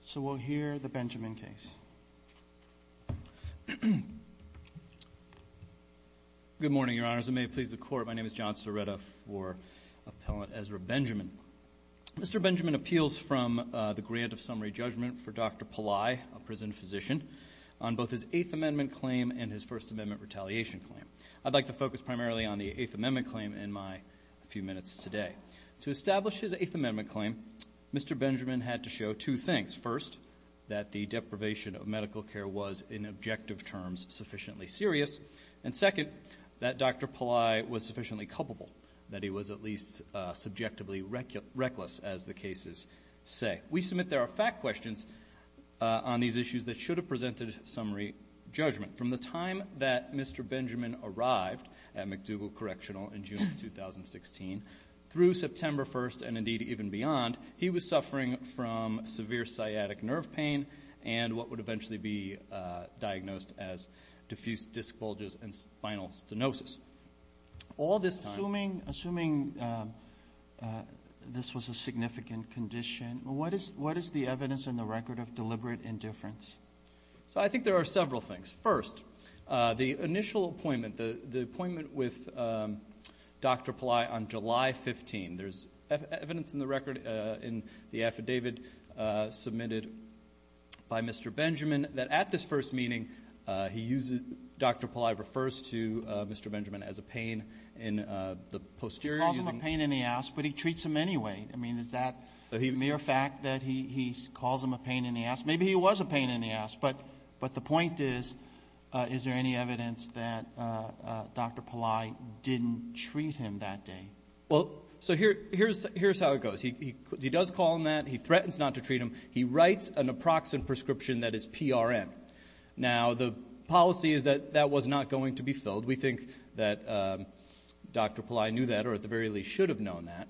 So we'll hear the Benjamin case. Good morning, Your Honors, and may it please the Court, my name is John Siretta for Appellant Ezra Benjamin. Mr. Benjamin appeals from the grant of summary judgment for Dr. Pillai, a prison physician, on both his Eighth Amendment claim and his First Amendment retaliation claim. I'd like to focus primarily on the Eighth Amendment claim in my few minutes today. To establish his Eighth Amendment claim, Mr. Benjamin had to show two things. First, that the deprivation of medical care was, in objective terms, sufficiently serious. And second, that Dr. Pillai was sufficiently culpable, that he was at least subjectively reckless, as the cases say. We submit there are fact questions on these issues that should have presented summary judgment. From the time that Mr. Benjamin arrived at MacDougall Correctional in June 2016, through September 1st, and indeed, even beyond, he was suffering from severe sciatic nerve pain. And what would eventually be diagnosed as diffuse disc bulges and spinal stenosis. All this time- Assuming this was a significant condition, what is the evidence in the record of deliberate indifference? So I think there are several things. First, the initial appointment, the appointment with Dr. Pillai on July 15th. There's evidence in the record, in the affidavit submitted by Mr. Benjamin, that at this first meeting, he uses, Dr. Pillai refers to Mr. Benjamin as a pain in the posterior- He calls him a pain in the ass, but he treats him anyway. I mean, is that mere fact that he calls him a pain in the ass? Maybe he was a pain in the ass, but the point is, is there any evidence that Dr. Pillai didn't treat him that day? Well, so here's how it goes. He does call him that. He threatens not to treat him. He writes an approximate prescription that is PRM. Now, the policy is that that was not going to be filled. We think that Dr. Pillai knew that, or at the very least should have known that.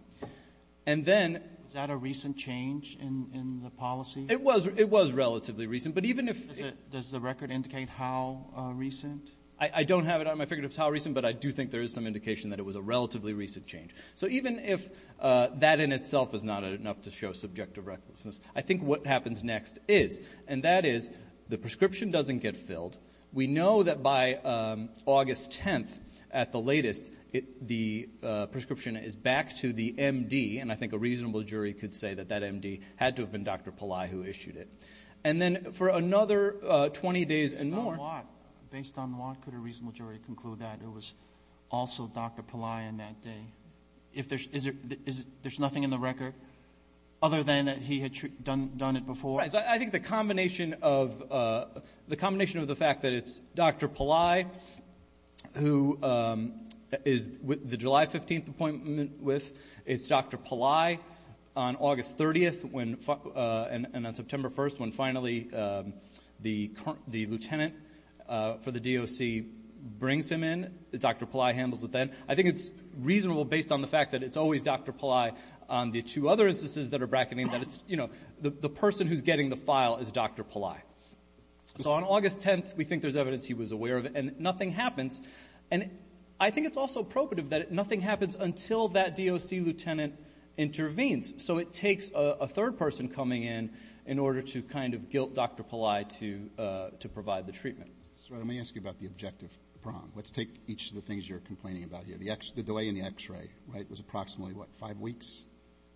And then- Is that a recent change in the policy? It was relatively recent, but even if- Does the record indicate how recent? I don't have it on my finger if it's how recent, but I do think there is some indication that it was a relatively recent change. So even if that in itself is not enough to show subjective recklessness, I think what happens next is, and that is, the prescription doesn't get filled. We know that by August 10th, at the latest, the prescription is back to the MD, and I think a reasonable jury could say that that MD had to have been Dr. Pillai who issued it. And then for another 20 days and more- Based on what? Based on what could a reasonable jury conclude that it was also Dr. Pillai on that day? If there's- There's nothing in the record other than that he had done it before? I think the combination of the fact that it's Dr. Pillai, who is the July 15th appointment with, it's Dr. Pillai on August 30th, and on September 1st, when finally the lieutenant for the DOC brings him in, Dr. Pillai handles it then. I think it's reasonable based on the fact that it's always Dr. Pillai on the two other instances that are bracketing, that it's, you know, the person who's getting the file is Dr. Pillai. So on August 10th, we think there's evidence he was aware of it, and nothing happens. And I think it's also appropriate that nothing happens until that DOC lieutenant intervenes. So it takes a third person coming in in order to kind of guilt Dr. Pillai to provide the treatment. So let me ask you about the objective problem. Let's take each of the things you're complaining about here. The delay in the x-ray, right, was approximately what, five weeks?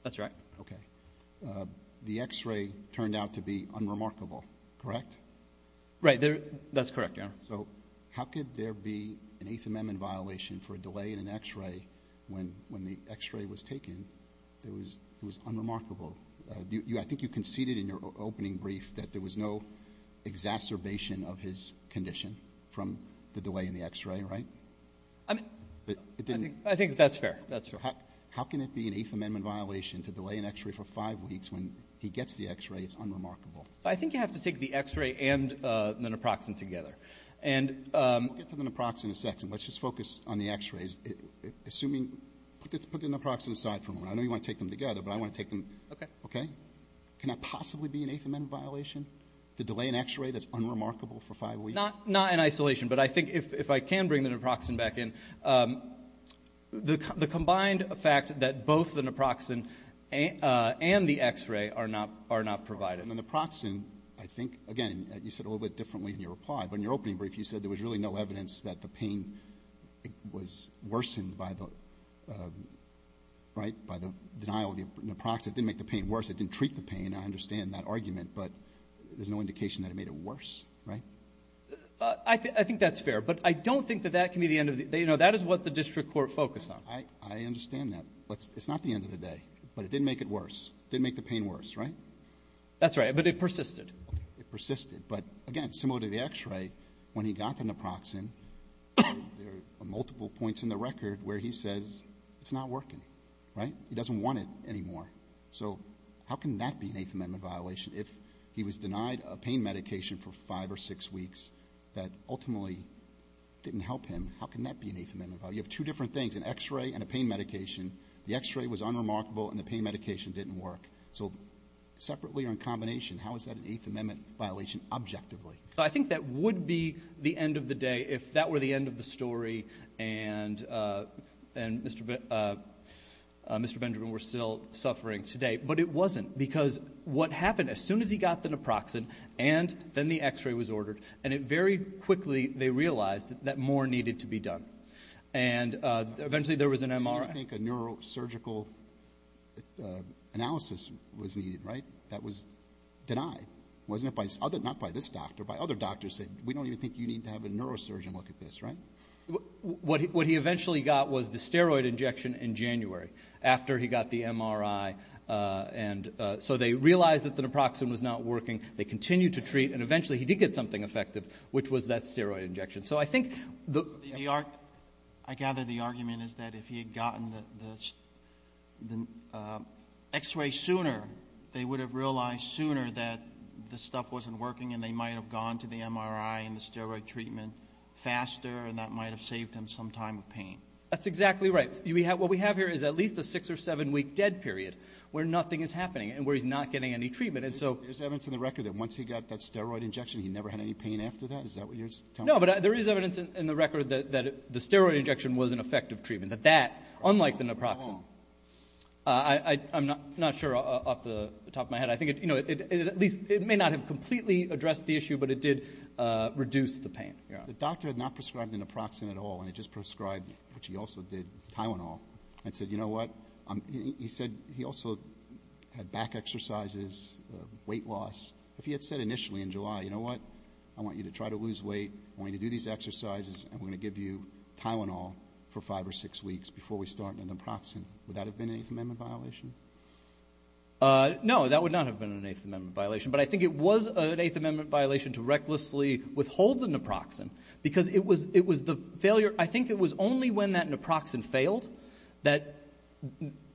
That's right. Okay. The x-ray turned out to be unremarkable, correct? Right, that's correct, yeah. So how could there be an Eighth Amendment violation for a delay in an x-ray when the x-ray was taken that was unremarkable? I think you conceded in your opening brief that there was no exacerbation of his condition from the delay in the x-ray, right? I mean, I think that's fair, that's fair. How can it be an Eighth Amendment violation to delay an x-ray for five weeks when he gets the x-ray, it's unremarkable? I think you have to take the x-ray and menoproxen together. We'll get to the neproxen in a second. Let's just focus on the x-rays. Assuming, put the neproxen aside for a moment. I know you want to take them together, but I want to take them, okay? Can that possibly be an Eighth Amendment violation, to delay an x-ray that's unremarkable for five weeks? Not in isolation, but I think if I can bring the neproxen back in, the combined fact that both the neproxen and the x-ray are not provided. And the neproxen, I think, again, you said a little bit differently in your reply, but in your opening brief, you said there was really no evidence that the pain was worsened by the denial of the neproxen. It didn't make the pain worse, it didn't treat the pain, I understand that argument, but there's no indication that it made it worse, right? I think that's fair, but I don't think that that can be the end of the, you know, that is what the district court focused on. I understand that, but it's not the end of the day. But it didn't make it worse, didn't make the pain worse, right? That's right, but it persisted. It persisted, but again, similar to the x-ray, when he got the neproxen, there are multiple points in the record where he says it's not working, right? He doesn't want it anymore. So how can that be an Eighth Amendment violation if he was denied a pain medication for five or six weeks that ultimately didn't help him, how can that be an Eighth Amendment violation? You have two different things, an x-ray and a pain medication. The x-ray was unremarkable and the pain medication didn't work. So separately or in combination, how is that an Eighth Amendment violation objectively? I think that would be the end of the day if that were the end of the story and Mr. Benjamin were still suffering today. But it wasn't, because what happened, as soon as he got the neproxen and then the x-ray was ordered, and it very quickly, they realized that more needed to be done. And eventually there was an MRI. I don't think a neurosurgical analysis was needed, right? That was denied. Wasn't it by, not by this doctor, by other doctors saying, we don't even think you need to have a neurosurgeon look at this, right? What he eventually got was the steroid injection in January after he got the MRI. And so they realized that the neproxen was not working. They continued to treat, and eventually he did get something effective, which was that steroid injection. So I think the... I gather the argument is that if he had gotten the x-ray sooner, they would have realized sooner that the stuff wasn't working, and they might have gone to the MRI and the steroid treatment faster, and that might have saved him some time of pain. That's exactly right. What we have here is at least a six or seven week dead period, where nothing is happening and where he's not getting any treatment, and so... There's evidence in the record that once he got that steroid injection, he never had any pain after that? Is that what you're telling me? No, but there is evidence in the record that the steroid injection was an effective treatment, that that, unlike the neproxen... How long? I'm not sure off the top of my head. I think, you know, at least it may not have completely addressed the issue, but it did reduce the pain. The doctor had not prescribed the neproxen at all, and he just prescribed what he also did, Tylenol, and said, you know what? He said he also had back exercises, weight loss. If he had said initially in July, you know what? I want you to try to lose weight, I want you to do these exercises, and we're going to give you Tylenol for five or six weeks before we start the neproxen. Would that have been an Eighth Amendment violation? No, that would not have been an Eighth Amendment violation, but I think it was an Eighth Amendment violation to recklessly withhold the neproxen because it was the failure. I think it was only when that neproxen failed that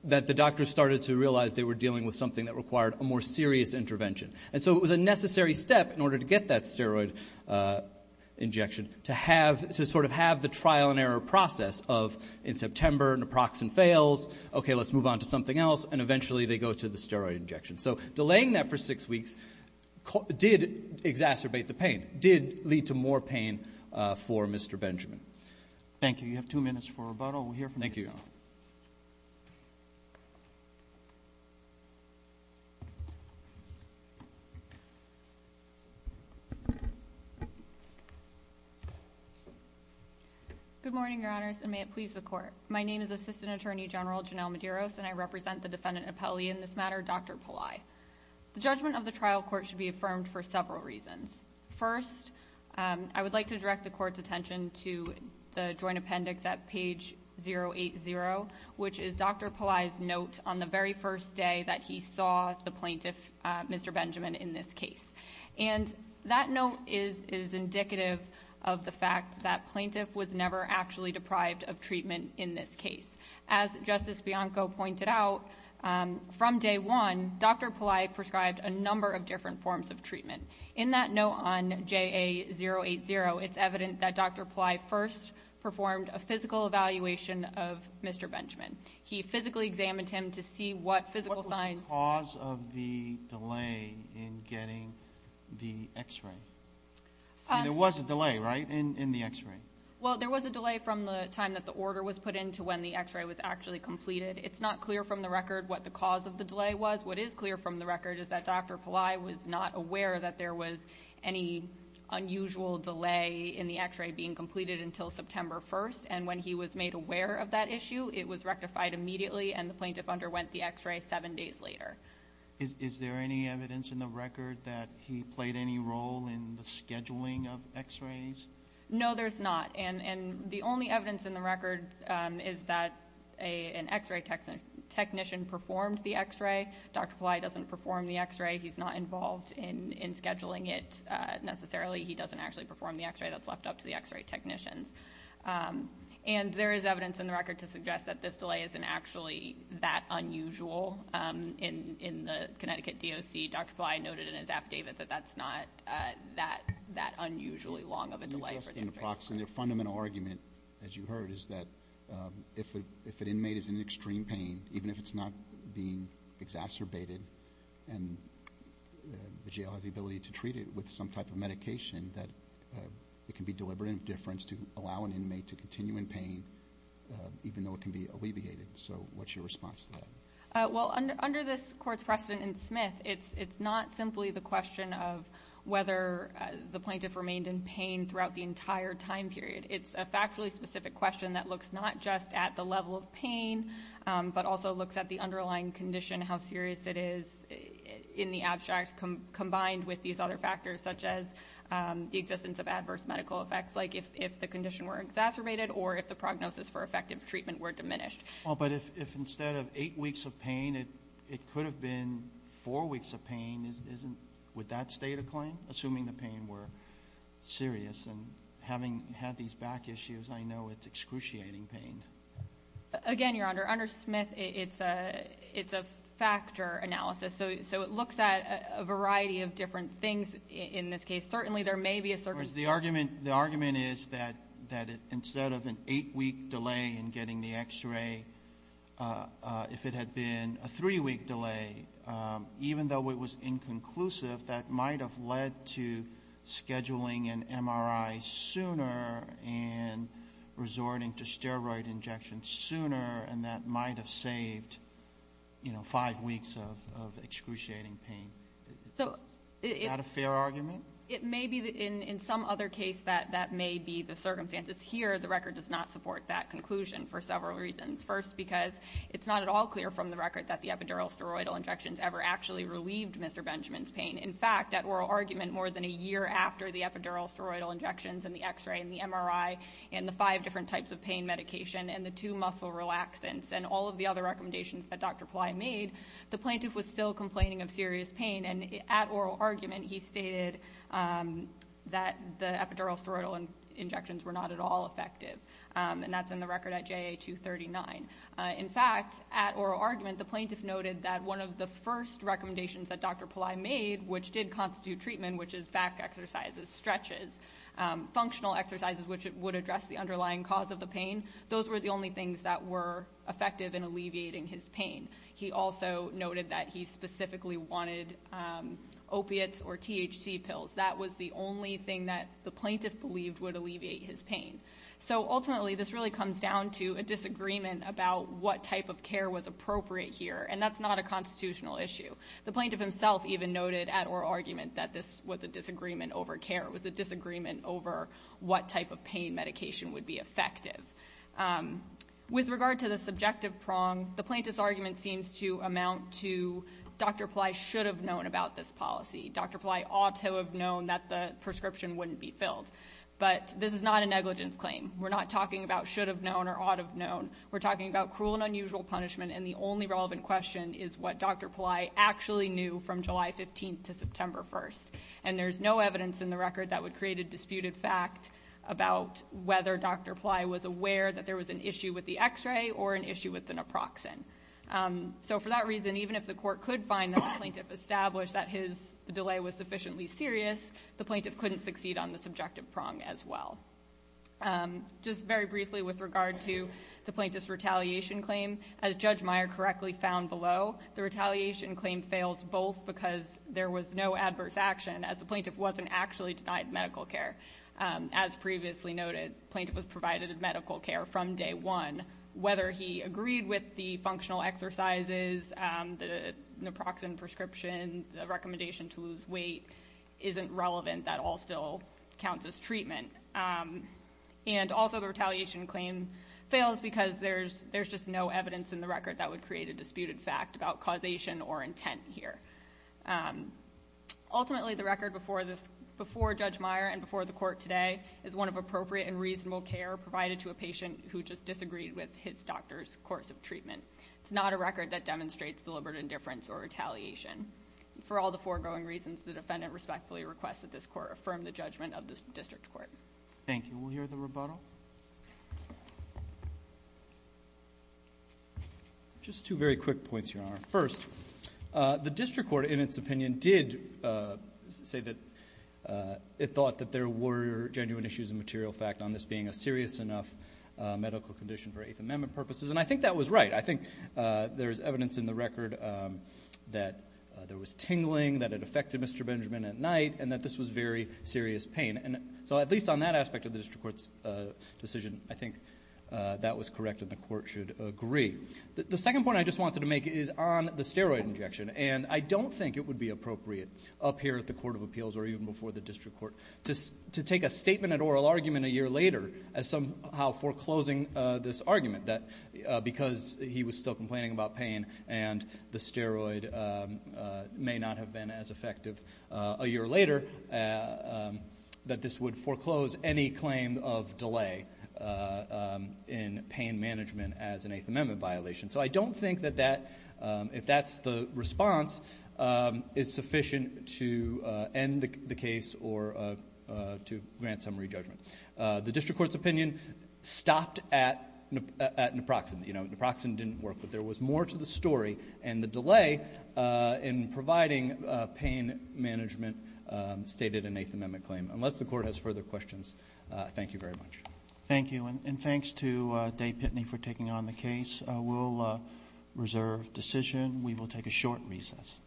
the doctors started to realize they were dealing with something that required a more serious intervention. And so it was a necessary step in order to get that steroid injection to sort of have the trial and error process of, in September, neproxen fails, okay, let's move on to something else, and eventually they go to the steroid injection. So delaying that for six weeks did exacerbate the pain, did lead to more pain for Mr. Benjamin. Thank you. You have two minutes for rebuttal. Thank you. Good morning, Your Honors, and may it please the Court. My name is Assistant Attorney General Janelle Medeiros, and I represent the defendant appellee in this matter, Dr. Pillai. The judgment of the trial court should be affirmed for several reasons. First, I would like to direct the Court's attention to the joint appendix at page 080, which is Dr. Pillai's note on the very first day that he saw the plaintiff, Mr. Benjamin, in this case. And that note is indicative of the fact that plaintiff was never actually deprived of treatment in this case. As Justice Bianco pointed out, from day one, Dr. Pillai prescribed a number of different forms of treatment. In that note on JA080, it's evident that Dr. Pillai first performed a physical evaluation of Mr. Benjamin. He physically examined him to see what physical signs... What was the cause of the delay in getting the x-ray? There was a delay, right, in the x-ray? Well, there was a delay from the time that the order was put in to when the x-ray was actually completed. It's not clear from the record what the cause of the delay was. What is clear from the record is that Dr. Pillai was not aware that there was any unusual delay in the x-ray being completed until September 1st. And when he was made aware of that issue, it was rectified immediately, and the plaintiff underwent the x-ray seven days later. Is there any evidence in the record that he played any role in the scheduling of x-rays? No, there's not. And the only evidence in the record is that an x-ray technician performed the x-ray. Dr. Pillai doesn't perform the x-ray. He's not involved in scheduling it necessarily. He doesn't actually perform the x-ray that's left up to the x-ray technicians. And there is evidence in the record to suggest that this delay isn't actually that unusual. In the Connecticut DOC, Dr. Pillai noted in his affidavit that that's not that unusually long of a delay. The fundamental argument, as you heard, is that if an inmate is in extreme pain, even if it's not being exacerbated and the jail has the ability to treat it with some type of medication, that it can be deliberate and of difference to allow an inmate to continue in pain, even though it can be alleviated. So what's your response to that? Well, under this court's precedent in Smith, it's not simply the question of whether the plaintiff remained in pain throughout the entire time period. It's a factually specific question that looks not just at the level of pain, but also looks at the underlying condition, how serious it is in the abstract, combined with these other factors such as the existence of adverse medical effects, like if the condition were exacerbated or if the prognosis for effective treatment were diminished. Well, but if instead of eight weeks of pain, it could have been four weeks of pain with that state of claim, assuming the pain were serious and having had these back issues, I know it's excruciating pain. Again, Your Honor, under Smith, it's a factor analysis, so it looks at a variety of different things in this case. Certainly there may be a certain... In other words, the argument is that instead of an eight-week delay in getting the X-ray, if it had been a three-week delay, even though it was inconclusive, that might have led to scheduling an MRI sooner and resorting to steroid injection sooner, and that might have saved, you know, five weeks of excruciating pain. Is that a fair argument? It may be. In some other case, that may be the circumstances. Here, the record does not support that conclusion for several reasons. First, because it's not at all clear from the record that the epidural steroidal injections ever actually relieved Mr. Benjamin's pain. In fact, at oral argument, more than a year after the epidural steroidal injections and the X-ray and the MRI and the five different types of pain medication and the two muscle relaxants and all of the other recommendations that Dr. Pillai made, the plaintiff was still complaining of serious pain, and at oral argument he stated that the epidural steroidal injections were not at all effective, and that's in the record at JA239. In fact, at oral argument, the plaintiff noted that one of the first recommendations that Dr. Pillai made, which did constitute treatment, which is back exercises, stretches, functional exercises, which would address the underlying cause of the pain, those were the only things that were effective in alleviating his pain. He also noted that he specifically wanted opiates or THC pills. That was the only thing that the plaintiff believed would alleviate his pain. So ultimately, this really comes down to a disagreement about what type of care was appropriate here, and that's not a constitutional issue. The plaintiff himself even noted at oral argument that this was a disagreement over care. It was a disagreement over what type of pain medication would be effective. With regard to the subjective prong, the plaintiff's argument seems to amount to Dr. Pillai should have known about this policy. Dr. Pillai ought to have known that the prescription wouldn't be filled. But this is not a negligence claim. We're not talking about should have known or ought have known. We're talking about cruel and unusual punishment, and the only relevant question is what Dr. Pillai actually knew from July 15th to September 1st. And there's no evidence in the record that would create a disputed fact about whether Dr. Pillai was aware that there was an issue with the x-ray or an issue with the naproxen. So for that reason, even if the court could find that the plaintiff established that his delay was sufficiently serious, the plaintiff couldn't succeed on the subjective prong as well. Just very briefly with regard to the plaintiff's retaliation claim, as Judge Meyer correctly found below, the retaliation claim fails both because there was no adverse action, as the plaintiff wasn't actually denied medical care. As previously noted, the plaintiff was provided medical care from day one. Whether he agreed with the functional exercises, the naproxen prescription, the recommendation to lose weight isn't relevant. That all still counts as treatment. And also the retaliation claim fails because there's just no evidence in the record that would create a disputed fact about causation or intent here. Ultimately, the record before Judge Meyer and before the court today is one of appropriate and reasonable care provided to a patient who just disagreed with his doctor's course of treatment. It's not a record that demonstrates deliberate indifference or retaliation. For all the foregoing reasons, the defendant respectfully requests that this court affirm the judgment of this district court. Thank you. We'll hear the rebuttal. Just two very quick points, Your Honor. First, the district court in its opinion did say that it thought that there were genuine issues of material fact on this being a serious enough medical condition for Eighth Amendment purposes. And I think that was right. I think there's evidence in the record that there was tingling, that it affected Mr. Benjamin at night, and that this was very serious pain. And so at least on that aspect of the district court's decision, I think that was correct and the court should agree. The second point I just wanted to make is on the steroid injection. And I don't think it would be appropriate up here at the Court of Appeals or even before the district court to take a statement and oral argument a year later as somehow foreclosing this argument that because he was still complaining about pain and the steroid may not have been as effective a year later, that this would foreclose any claim of delay in pain management as an Eighth Amendment violation. So I don't think that that, if that's the response, is sufficient to end the case or to grant summary judgment. The district court's opinion stopped at Naproxen. You know, Naproxen didn't work, but there was more to the story, and the delay in providing pain management stated an Eighth Amendment claim. Unless the court has further questions, thank you very much. Thank you, and thanks to Day-Pitney for taking on the case. We'll reserve decision. We will take a short recess. Quiet stand and reserve. Thank you. Are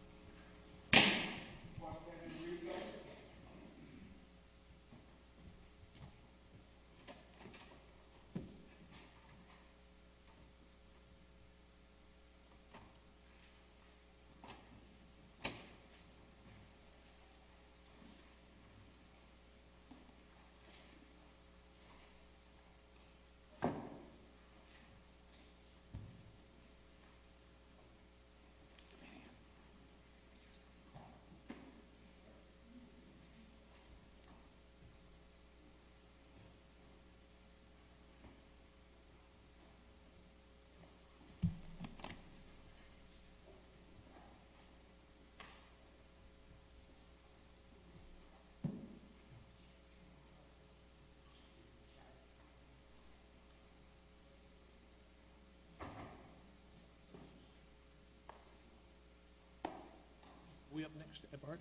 we up next at the park?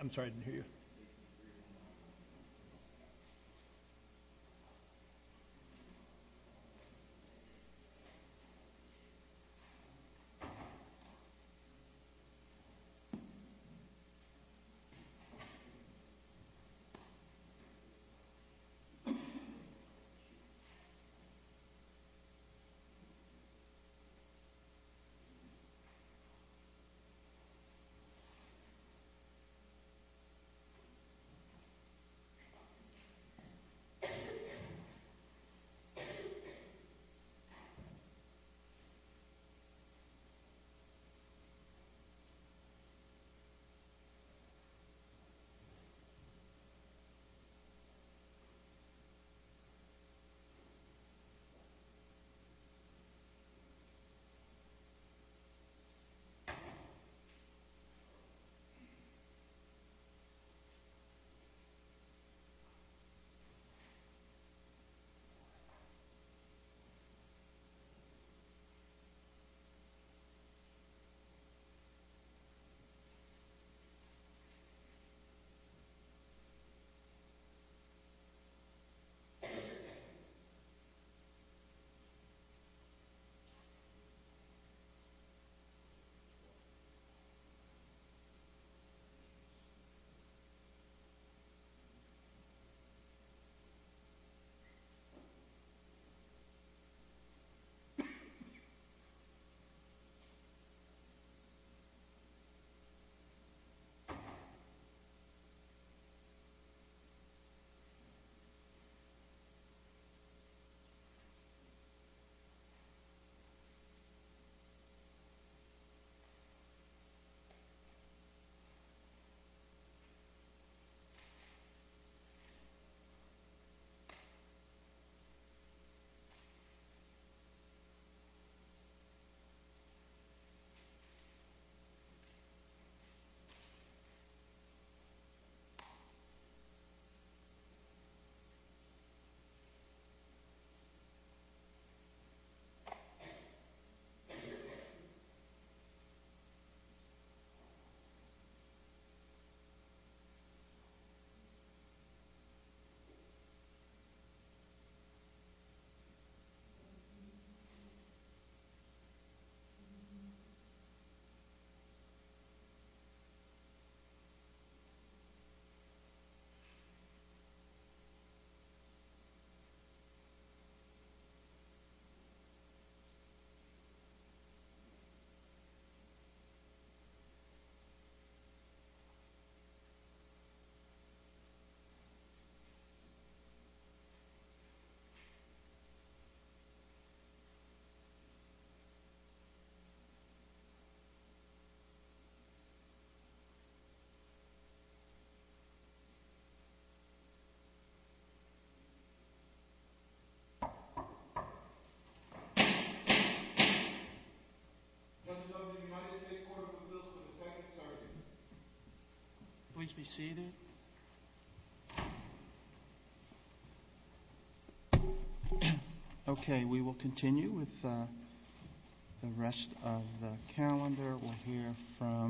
I'm sorry, I didn't hear you. Thank you. Thank you. Thank you. Thank you. Thank you. Judges, the United States Court of Appeals to the Second Circuit. Please be seated. Okay, we will continue with the rest of the calendar. We'll hear from